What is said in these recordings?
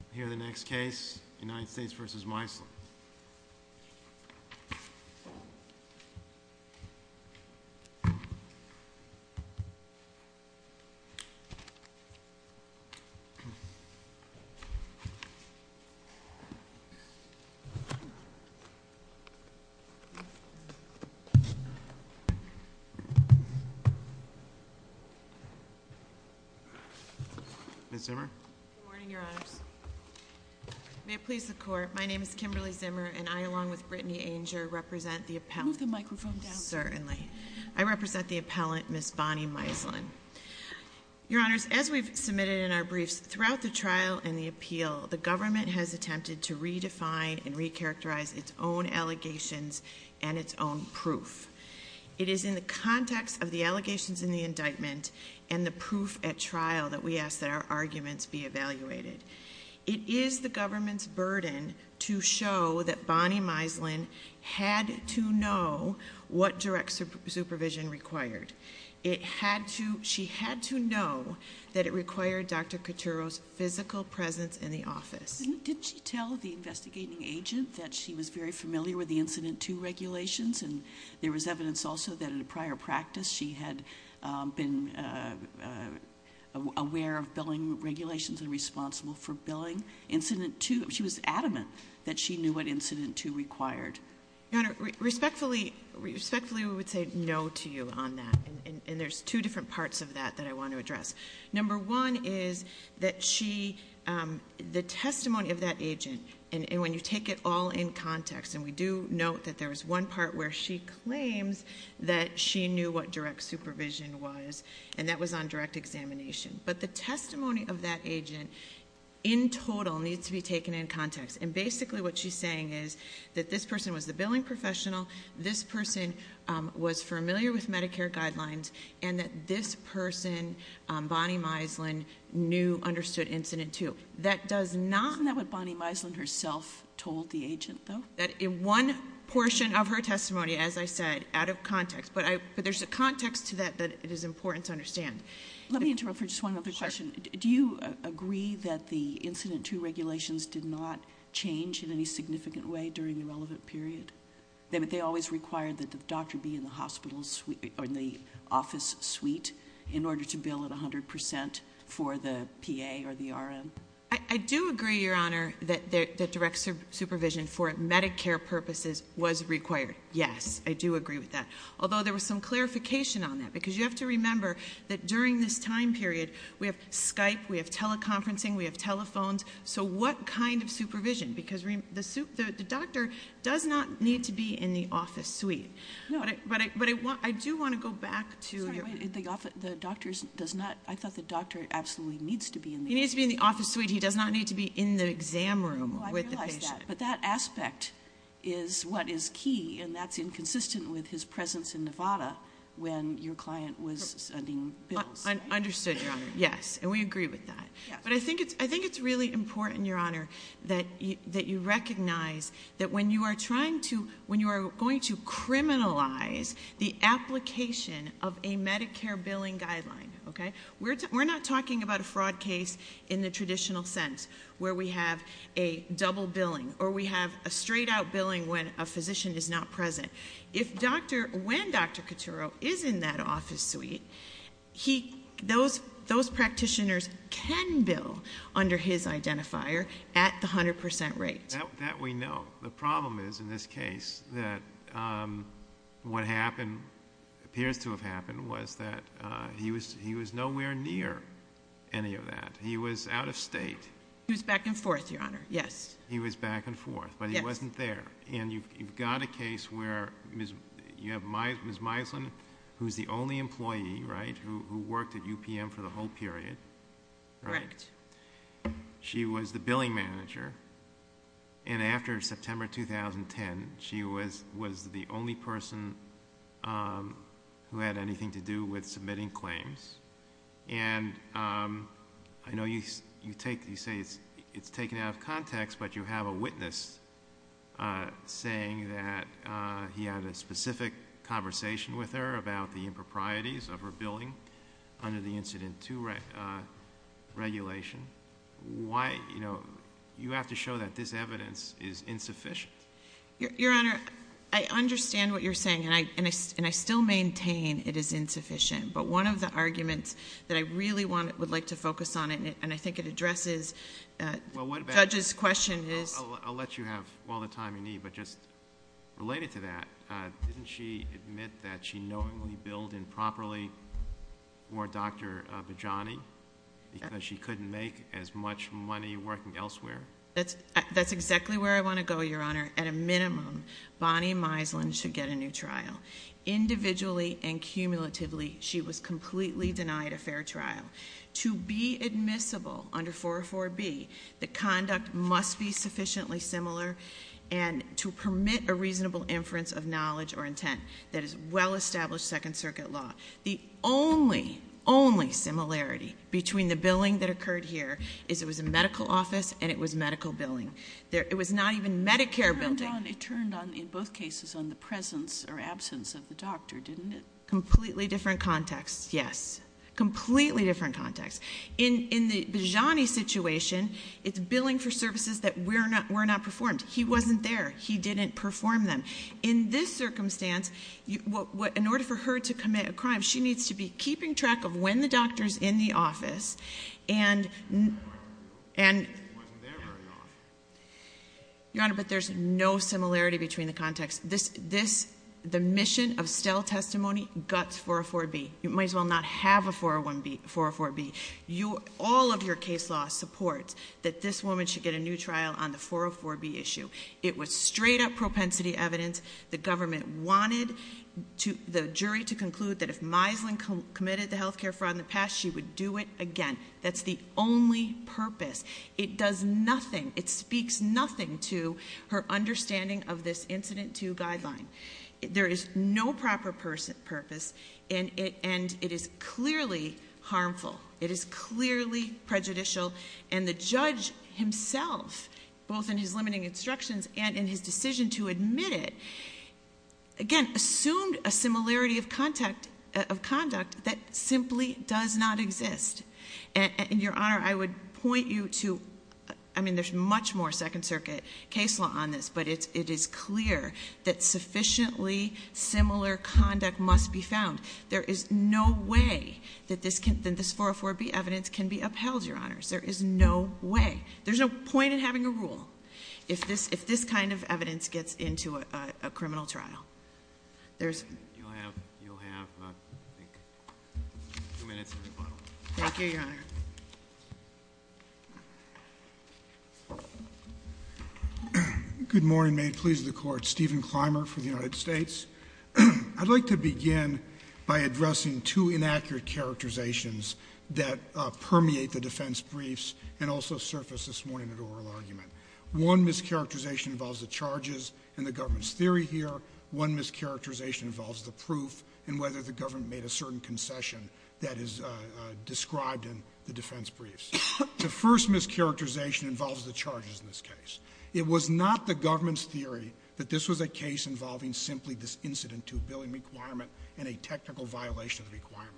I hear the next case, United States v. Meisler. Ms. Zimmer? Good morning, Your Honors. May it please the Court, my name is Kimberly Zimmer, and I, along with Brittany Anger, represent the appellant. Move the microphone down. Certainly. I represent the appellant, Ms. Bonnie Meisler. Your Honors, as we've submitted in our briefs, throughout the trial and the appeal, the government has attempted to redefine and recharacterize its own allegations and its own proof. It is in the context of the allegations in the indictment and the proof at trial that we ask that our arguments be evaluated. It is the government's burden to show that Bonnie Meisler had to know what direct supervision required. She had to know that it required Dr. Coturro's physical presence in the office. Didn't she tell the investigating agent that she was very familiar with the Incident 2 regulations? And there was evidence also that in a prior practice she had been aware of billing regulations and responsible for billing Incident 2. She was adamant that she knew what Incident 2 required. Your Honor, respectfully, we would say no to you on that. And there's two different parts of that that I want to address. Number one is that the testimony of that agent, and when you take it all in context, and we do note that there was one part where she claims that she knew what direct supervision was, and that was on direct examination. But the testimony of that agent, in total, needs to be taken in context. And basically what she's saying is that this person was the billing professional, this person was familiar with Medicare guidelines, and that this person, Bonnie Meisler, knew, understood Incident 2. Isn't that what Bonnie Meisler herself told the agent, though? In one portion of her testimony, as I said, out of context. But there's a context to that that is important to understand. Let me interrupt for just one other question. Do you agree that the Incident 2 regulations did not change in any significant way during the relevant period? They always required that the doctor be in the office suite in order to bill at 100% for the PA or the RN? I do agree, Your Honor, that direct supervision for Medicare purposes was required. Yes, I do agree with that, although there was some clarification on that, because you have to remember that during this time period, we have Skype, we have teleconferencing, we have telephones. So what kind of supervision? Because the doctor does not need to be in the office suite. No. But I do want to go back to your point. I thought the doctor absolutely needs to be in the office suite. He needs to be in the office suite. He does not need to be in the exam room with the patient. Well, I realize that, but that aspect is what is key, and that's inconsistent with his presence in Nevada when your client was sending bills. Understood, Your Honor. Yes, and we agree with that. But I think it's really important, Your Honor, that you recognize that when you are trying to, when you are going to criminalize the application of a Medicare billing guideline, okay, we're not talking about a fraud case in the traditional sense where we have a double billing or we have a straight-out billing when a physician is not present. If doctor, when Dr. Coturo is in that office suite, he, those practitioners can bill under his identifier at the 100% rate. That we know. The problem is in this case that what happened, appears to have happened, was that he was nowhere near any of that. He was out of state. He was back and forth, Your Honor, yes. He was back and forth, but he wasn't there. And you've got a case where you have Ms. Meislin, who is the only employee, right, who worked at UPM for the whole period, right? Correct. She was the billing manager, and after September 2010, she was the only person who had anything to do with submitting claims. And I know you say it's taken out of context, but you have a witness saying that he had a specific conversation with her about the improprieties of her billing under the Incident II regulation. Why, you know, you have to show that this evidence is insufficient. Your Honor, I understand what you're saying, and I still maintain it is insufficient, but one of the arguments that I really would like to focus on, and I think it addresses Judge's question, is I'll let you have all the time you need, but just related to that, didn't she admit that she knowingly billed improperly for Dr. Bajani because she couldn't make as much money working elsewhere? That's exactly where I want to go, Your Honor. At a minimum, Bonnie Meislin should get a new trial. Individually and cumulatively, she was completely denied a fair trial. To be admissible under 404B, the conduct must be sufficiently similar and to permit a reasonable inference of knowledge or intent. That is well-established Second Circuit law. The only, only similarity between the billing that occurred here is it was a medical office and it was medical billing. It was not even Medicare billing. Your Honor, it turned on, in both cases, on the presence or absence of the doctor, didn't it? Completely different context, yes. Completely different context. In the Bajani situation, it's billing for services that were not performed. He wasn't there. He didn't perform them. In this circumstance, in order for her to commit a crime, she needs to be keeping track of when the doctor's in the office and— She wasn't there very often. Your Honor, but there's no similarity between the context. The mission of Stell testimony guts 404B. You might as well not have a 404B. All of your case law supports that this woman should get a new trial on the 404B issue. It was straight-up propensity evidence. The government wanted the jury to conclude that if Meislin committed the health care fraud in the past, she would do it again. That's the only purpose. It does nothing. It speaks nothing to her understanding of this Incident 2 guideline. There is no proper purpose, and it is clearly harmful. It is clearly prejudicial. And the judge himself, both in his limiting instructions and in his decision to admit it, again, assumed a similarity of conduct that simply does not exist. And, Your Honor, I would point you to— I mean, there's much more Second Circuit case law on this, but it is clear that sufficiently similar conduct must be found. There is no way that this 404B evidence can be upheld, Your Honors. There is no way. There's no point in having a rule if this kind of evidence gets into a criminal trial. There's— You'll have, I think, two minutes to rebuttal. Thank you, Your Honor. Good morning. May it please the Court. Stephen Clymer for the United States. I'd like to begin by addressing two inaccurate characterizations that permeate the defense briefs and also surface this morning at oral argument. One mischaracterization involves the charges and the government's theory here. One mischaracterization involves the proof and whether the government made a certain concession that is described in the defense briefs. The first mischaracterization involves the charges in this case. It was not the government's theory that this was a case involving simply this incident to a billing requirement and a technical violation of the requirement.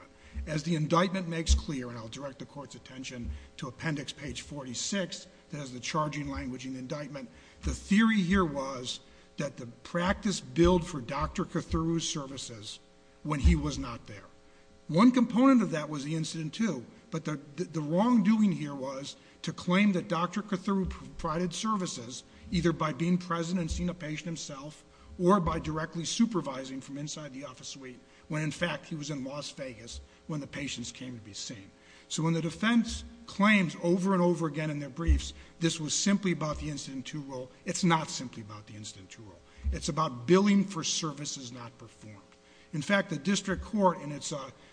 As the indictment makes clear, and I'll direct the Court's attention to appendix page 46, that has the charging language in the indictment, the theory here was that the practice billed for Dr. Kothuru's services when he was not there. One component of that was the incident, too, but the wrongdoing here was to claim that Dr. Kothuru provided services either by being present and seeing a patient himself or by directly supervising from inside the office suite when, in fact, he was in Las Vegas when the patients came to be seen. So when the defense claims over and over again in their briefs this was simply about the incident in two rule, it's not simply about the incident in two rule. It's about billing for services not performed. In fact, the district court in its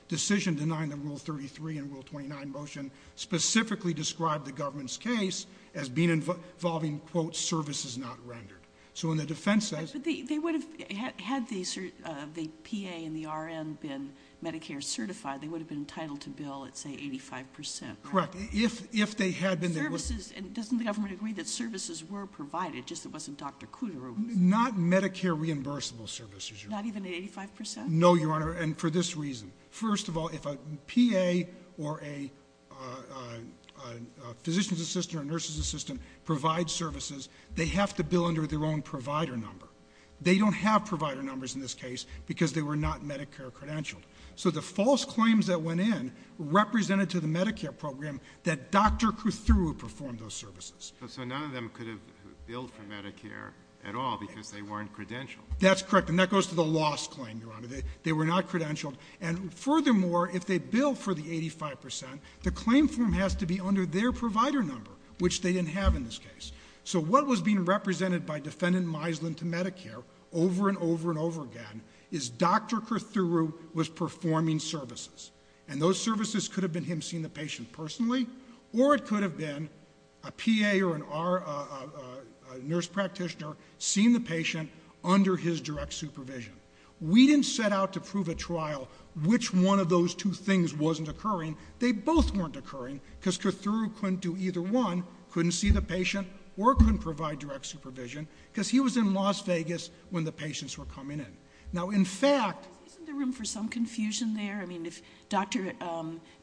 decision denying the Rule 33 and Rule 29 motion specifically described the government's case as being involving, quote, services not rendered. So when the defense says – But they would have – had the PA and the RN been Medicare certified, they would have been entitled to bill, let's say, 85 percent, right? Correct. If they had been, they would – Services – doesn't the government agree that services were provided, just it wasn't Dr. Kothuru? Not Medicare reimbursable services, Your Honor. Not even 85 percent? No, Your Honor, and for this reason. First of all, if a PA or a physician's assistant or a nurse's assistant provides services, they have to bill under their own provider number. They don't have provider numbers in this case because they were not Medicare credentialed. So the false claims that went in represented to the Medicare program that Dr. Kothuru performed those services. So none of them could have billed for Medicare at all because they weren't credentialed? That's correct, and that goes to the loss claim, Your Honor. They were not credentialed, and furthermore, if they bill for the 85 percent, the claim form has to be under their provider number, which they didn't have in this case. So what was being represented by Defendant Misland to Medicare over and over and over again is Dr. Kothuru was performing services, and those services could have been him seeing the patient personally or it could have been a PA or a nurse practitioner seeing the patient under his direct supervision. We didn't set out to prove at trial which one of those two things wasn't occurring. They both weren't occurring because Kothuru couldn't do either one, couldn't see the patient or couldn't provide direct supervision, because he was in Las Vegas when the patients were coming in. Now, in fact- Isn't there room for some confusion there? I mean, if Dr.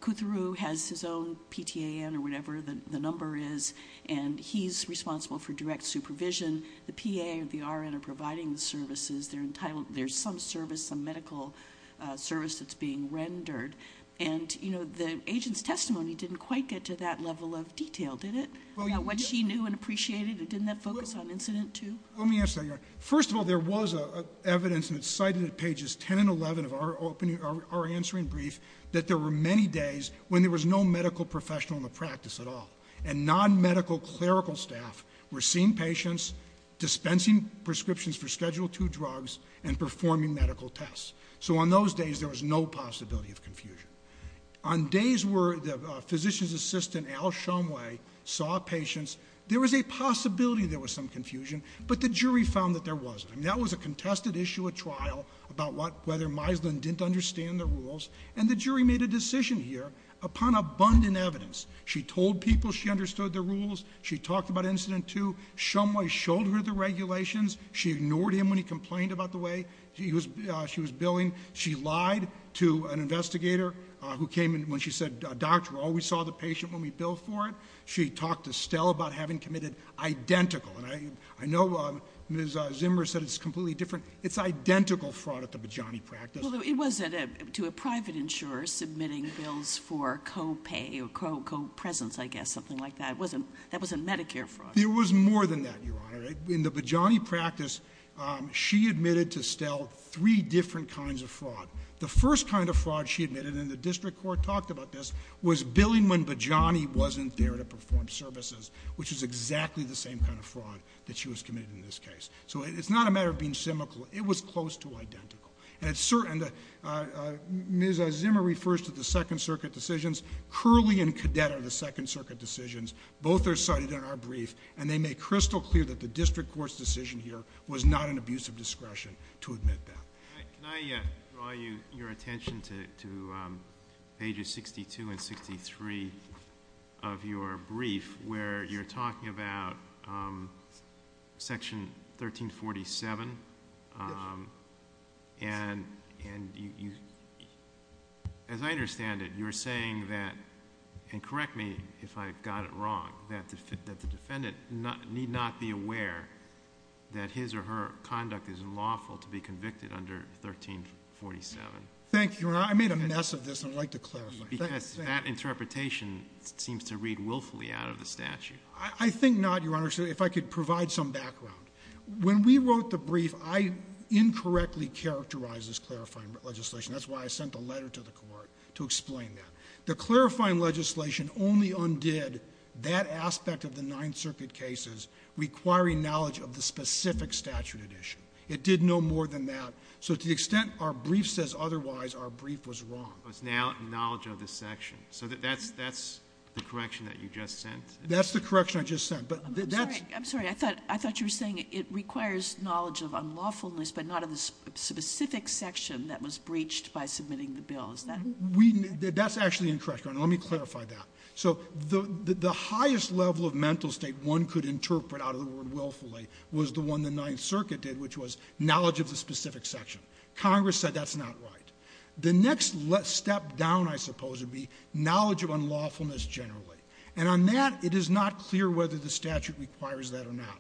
Kothuru has his own PTAN or whatever the number is and he's responsible for direct supervision, the PA or the RN are providing the services, there's some service, some medical service that's being rendered, and the agent's testimony didn't quite get to that level of detail, did it? About what she knew and appreciated? Didn't that focus on incident two? Let me answer that, Your Honor. First of all, there was evidence, and it's cited at pages 10 and 11 of our answering brief, that there were many days when there was no medical professional in the practice at all, and non-medical clerical staff were seeing patients, dispensing prescriptions for Schedule II drugs, and performing medical tests. So on those days, there was no possibility of confusion. On days where the physician's assistant, Al Shumway, saw patients, there was a possibility there was some confusion, but the jury found that there wasn't. I mean, that was a contested issue at trial about whether Meislin didn't understand the rules, and the jury made a decision here upon abundant evidence. She told people she understood the rules. She talked about incident two. Shumway showed her the regulations. She ignored him when he complained about the way she was billing. She lied to an investigator who came in when she said, Doctor, we always saw the patient when we billed for it. She talked to Stell about having committed identical. And I know Ms. Zimmer said it's completely different. It's identical fraud at the Bajani practice. Well, it was to a private insurer submitting bills for co-pay or co-presence, I guess, something like that. That wasn't Medicare fraud. It was more than that, Your Honor. In the Bajani practice, she admitted to Stell three different kinds of fraud. The first kind of fraud she admitted, and the district court talked about this, was billing when Bajani wasn't there to perform services, which is exactly the same kind of fraud that she was committing in this case. So it's not a matter of being symmetrical. It was close to identical. And Ms. Zimmer refers to the Second Circuit decisions. Curley and Cadet are the Second Circuit decisions. Both are cited in our brief, and they make crystal clear that the district court's decision here was not an abuse of discretion to admit that. Can I draw your attention to pages 62 and 63 of your brief, where you're talking about Section 1347? Yes. And as I understand it, you're saying that, and correct me if I've got it wrong, that the defendant need not be aware that his or her conduct is lawful to be convicted under 1347. Thank you, Your Honor. I made a mess of this, and I'd like to clarify. Because that interpretation seems to read willfully out of the statute. I think not, Your Honor, if I could provide some background. When we wrote the brief, I incorrectly characterized this clarifying legislation. That's why I sent a letter to the court to explain that. The clarifying legislation only undid that aspect of the Ninth Circuit cases requiring knowledge of the specific statute addition. It did no more than that. So to the extent our brief says otherwise, our brief was wrong. So it's knowledge of the section. So that's the correction that you just sent? That's the correction I just sent. I'm sorry. I thought you were saying it requires knowledge of unlawfulness, but not of the specific section that was breached by submitting the bill. That's actually incorrect, Your Honor. Let me clarify that. So the highest level of mental state one could interpret out of the word willfully was the one the Ninth Circuit did, which was knowledge of the specific section. Congress said that's not right. The next step down, I suppose, would be knowledge of unlawfulness generally. And on that, it is not clear whether the statute requires that or not.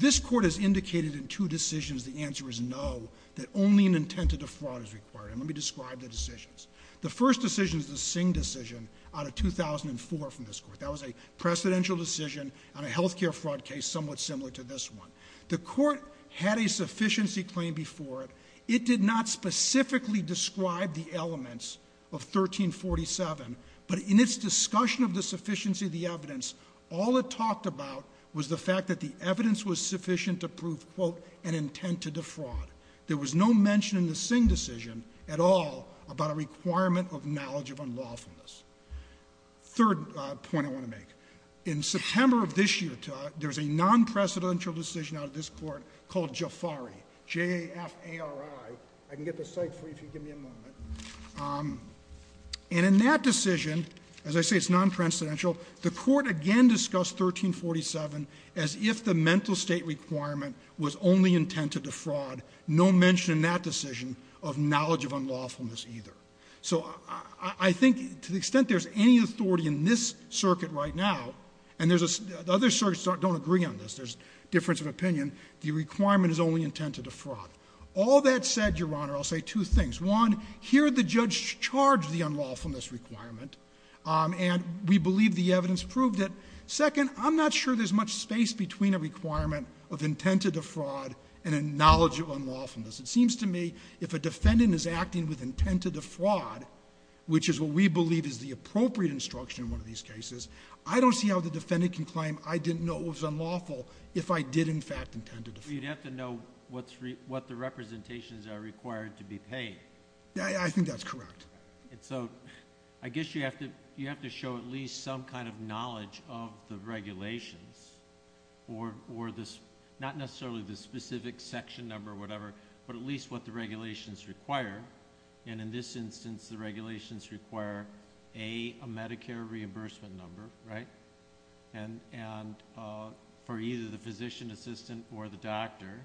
This Court has indicated in two decisions the answer is no, that only an intent to defraud is required. And let me describe the decisions. The first decision is the Singh decision out of 2004 from this Court. That was a precedential decision on a health care fraud case somewhat similar to this one. The Court had a sufficiency claim before it. It did not specifically describe the elements of 1347, but in its discussion of the sufficiency of the evidence, all it talked about was the fact that the evidence was sufficient to prove, quote, an intent to defraud. There was no mention in the Singh decision at all about a requirement of knowledge of unlawfulness. Third point I want to make. In September of this year, there was a non-precedential decision out of this Court called Jafari, J-A-F-A-R-I. I can get the site for you if you give me a moment. And in that decision, as I say, it's non-precedential, the Court again discussed 1347 as if the mental state requirement was only intent to defraud. No mention in that decision of knowledge of unlawfulness either. So I think to the extent there's any authority in this circuit right now, and the other circuits don't agree on this, there's difference of opinion, the requirement is only intent to defraud. All that said, Your Honor, I'll say two things. One, here the judge charged the unlawfulness requirement, and we believe the evidence proved it. Second, I'm not sure there's much space between a requirement of intent to defraud and a knowledge of unlawfulness. It seems to me if a defendant is acting with intent to defraud, which is what we believe is the appropriate instruction in one of these cases, I don't see how the defendant can claim I didn't know it was unlawful if I did in fact intend to defraud. You'd have to know what the representations are required to be paid. I think that's correct. So I guess you have to show at least some kind of knowledge of the regulations, or not necessarily the specific section number or whatever, but at least what the regulations require. In this instance, the regulations require, A, a Medicare reimbursement number for either the physician assistant or the doctor,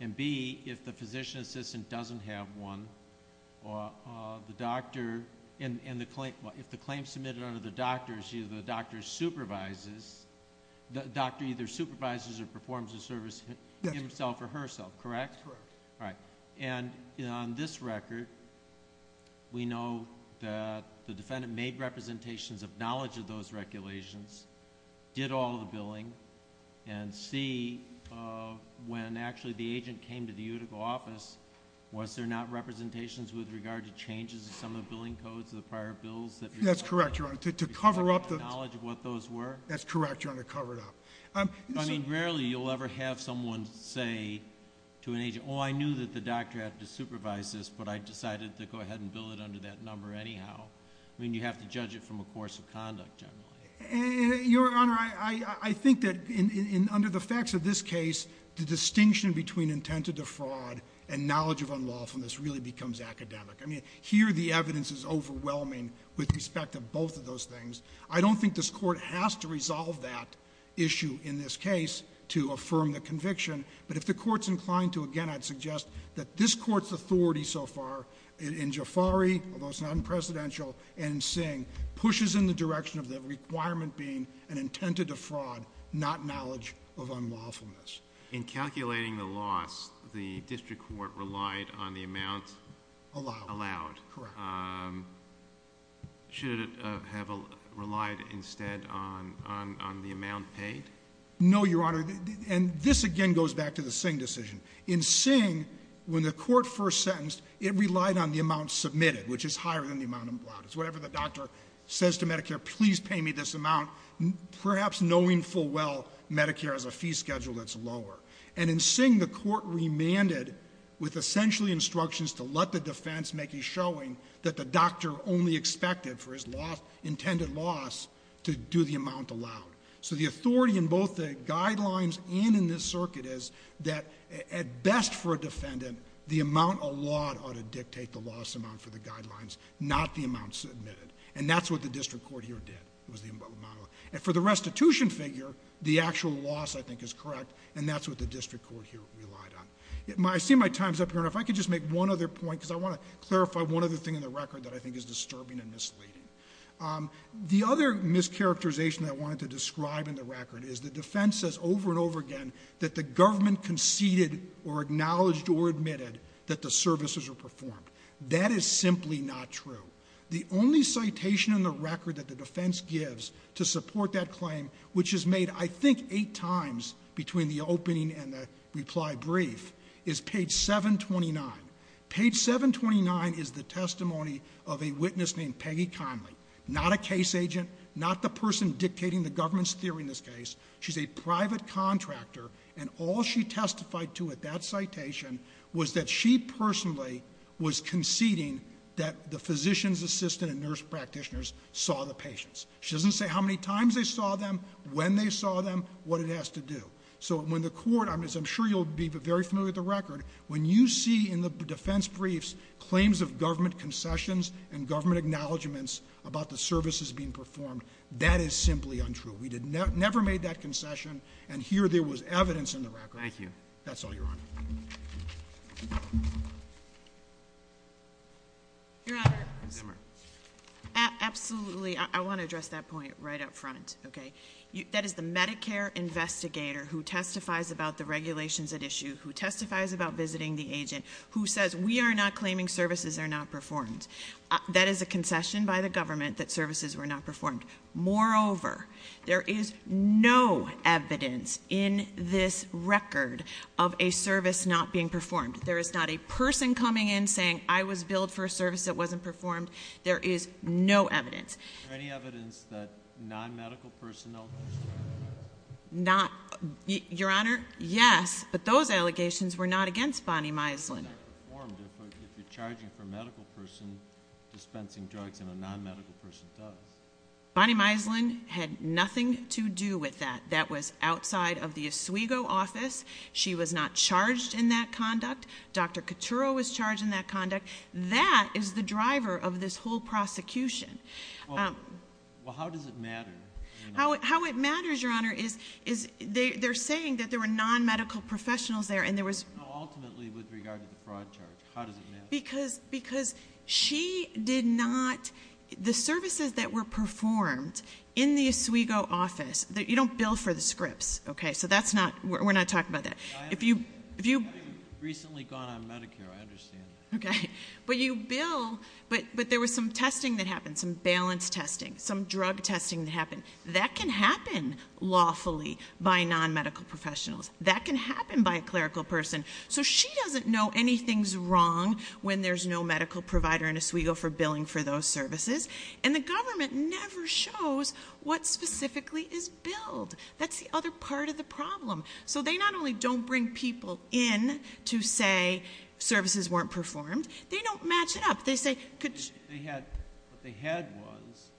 and, B, if the physician assistant doesn't have one, or if the claim is submitted under the doctor, the doctor either supervises or performs the service himself or herself, correct? Correct. All right. And on this record, we know that the defendant made representations of knowledge of those regulations, did all the billing, and, C, when actually the agent came to the utical office, was there not representations with regard to changes in some of the billing codes of the prior bills? That's correct, Your Honor. To cover up the knowledge of what those were? That's correct, Your Honor, to cover it up. I mean, rarely you'll ever have someone say to an agent, oh, I knew that the doctor had to supervise this, but I decided to go ahead and bill it under that number anyhow. I mean, you have to judge it from a course of conduct, generally. Your Honor, I think that under the facts of this case, the distinction between intent to defraud and knowledge of unlawfulness really becomes academic. I mean, here the evidence is overwhelming with respect to both of those things. I don't think this Court has to resolve that issue in this case to affirm the conviction, but if the Court's inclined to, again, I'd suggest that this Court's authority so far in Jafari, although it's not in Presidential, and in Singh, pushes in the direction of the requirement being an intent to defraud, not knowledge of unlawfulness. In calculating the loss, the district court relied on the amount allowed. Correct. Should it have relied instead on the amount paid? No, Your Honor, and this again goes back to the Singh decision. In Singh, when the Court first sentenced, it relied on the amount submitted, which is higher than the amount allowed. It's whatever the doctor says to Medicare, please pay me this amount, perhaps knowing full well Medicare has a fee schedule that's lower. And in Singh, the Court remanded with essentially instructions to let the defense make a showing that the doctor only expected for his intended loss to do the amount allowed. So the authority in both the guidelines and in this circuit is that at best for a defendant, the amount allowed ought to dictate the loss amount for the guidelines, not the amount submitted. And that's what the district court here did, was the amount allowed. And for the restitution figure, the actual loss, I think, is correct, and that's what the district court here relied on. I see my time's up here, and if I could just make one other point, because I want to clarify one other thing in the record that I think is disturbing and misleading. The other mischaracterization I wanted to describe in the record is the defense says over and over again that the government conceded or acknowledged or admitted that the services were performed. That is simply not true. The only citation in the record that the defense gives to support that claim, which is made, I think, eight times between the opening and the reply brief, is page 729. Page 729 is the testimony of a witness named Peggy Conley, not a case agent, not the person dictating the government's theory in this case. She's a private contractor, and all she testified to at that citation was that she personally was conceding that the physician's assistant and nurse practitioners saw the patients. She doesn't say how many times they saw them, when they saw them, what it has to do. So when the court, as I'm sure you'll be very familiar with the record, when you see in the defense briefs claims of government concessions and government acknowledgments about the services being performed, that is simply untrue. We never made that concession, and here there was evidence in the record. Thank you. That's all, Your Honor. Your Honor, absolutely, I want to address that point right up front, okay? That is the Medicare investigator who testifies about the regulations at issue, who testifies about visiting the agent, who says, we are not claiming services are not performed. That is a concession by the government that services were not performed. Moreover, there is no evidence in this record of a service not being performed. There is not a person coming in saying, I was billed for a service that wasn't performed. There is no evidence. Is there any evidence that non-medical personnel? Your Honor, yes, but those allegations were not against Bonnie Miesland. If you're charging for a medical person dispensing drugs and a non-medical person does. Bonnie Miesland had nothing to do with that. That was outside of the Oswego office. She was not charged in that conduct. Dr. Couturo was charged in that conduct. That is the driver of this whole prosecution. Well, how does it matter? How it matters, Your Honor, is they're saying that there were non-medical professionals there and there was. Ultimately, with regard to the fraud charge, how does it matter? Because she did not, the services that were performed in the Oswego office, you don't bill for the scripts, okay? So that's not, we're not talking about that. I haven't recently gone on Medicare, I understand. Okay, but you bill, but there was some testing that happened, some balance testing, some drug testing that happened. That can happen lawfully by non-medical professionals. That can happen by a clerical person. So she doesn't know anything's wrong when there's no medical provider in Oswego for billing for those services. And the government never shows what specifically is billed. That's the other part of the problem. So they not only don't bring people in to say services weren't performed, they don't match it up. They say- They had, what they had was,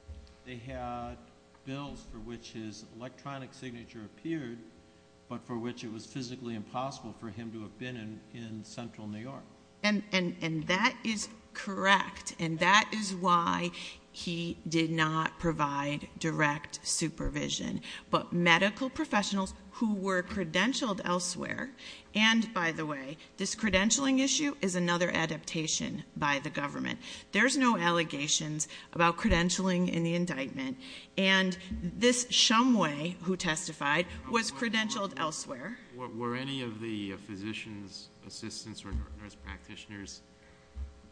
they had bills for which his electronic signature appeared, but for which it was physically impossible for him to have been in Central New York. And that is correct. And that is why he did not provide direct supervision. But medical professionals who were credentialed elsewhere, and by the way, this credentialing issue is another adaptation by the government. There's no allegations about credentialing in the indictment. And this Shumway who testified was credentialed elsewhere. Were any of the physician's assistants or nurse practitioners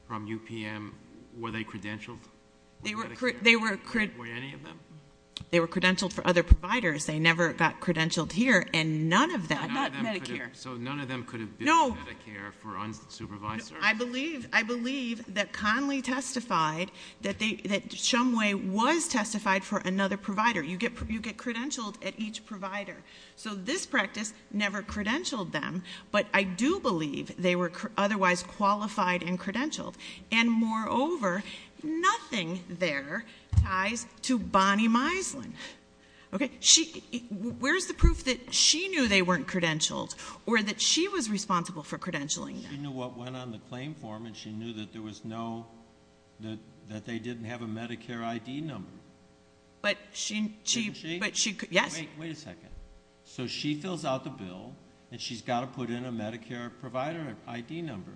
from UPM, were they credentialed? They were- Were any of them? They were credentialed for other providers. They never got credentialed here. And none of that- Not Medicare. So none of them could have been Medicare for unsupervised service? I believe that Conley testified that Shumway was testified for another provider. You get credentialed at each provider. So this practice never credentialed them. But I do believe they were otherwise qualified and credentialed. And moreover, nothing there ties to Bonnie Mislan. Okay? Where's the proof that she knew they weren't credentialed or that she was responsible for credentialing them? She knew what went on the claim form and she knew that there was no- that they didn't have a Medicare ID number. But she- Didn't she? Yes. Wait a second. So she fills out the bill and she's got to put in a Medicare provider ID number.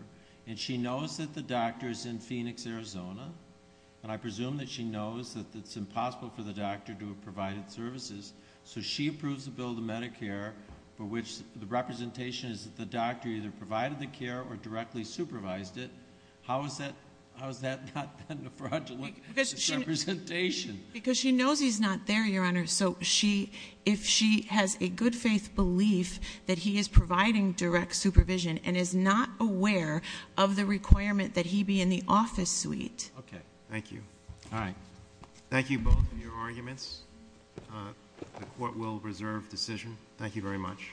And she knows that the doctor is in Phoenix, Arizona. And I presume that she knows that it's impossible for the doctor to have provided services. So she approves the bill of Medicare for which the representation is that the doctor either provided the care or directly supervised it. How has that not been a fraudulent representation? Because she knows he's not there, Your Honor. So if she has a good faith belief that he is providing direct supervision and is not aware of the requirement that he be in the office suite- Okay. Thank you. All right. Thank you both for your arguments. The Court will reserve decision. Thank you very much.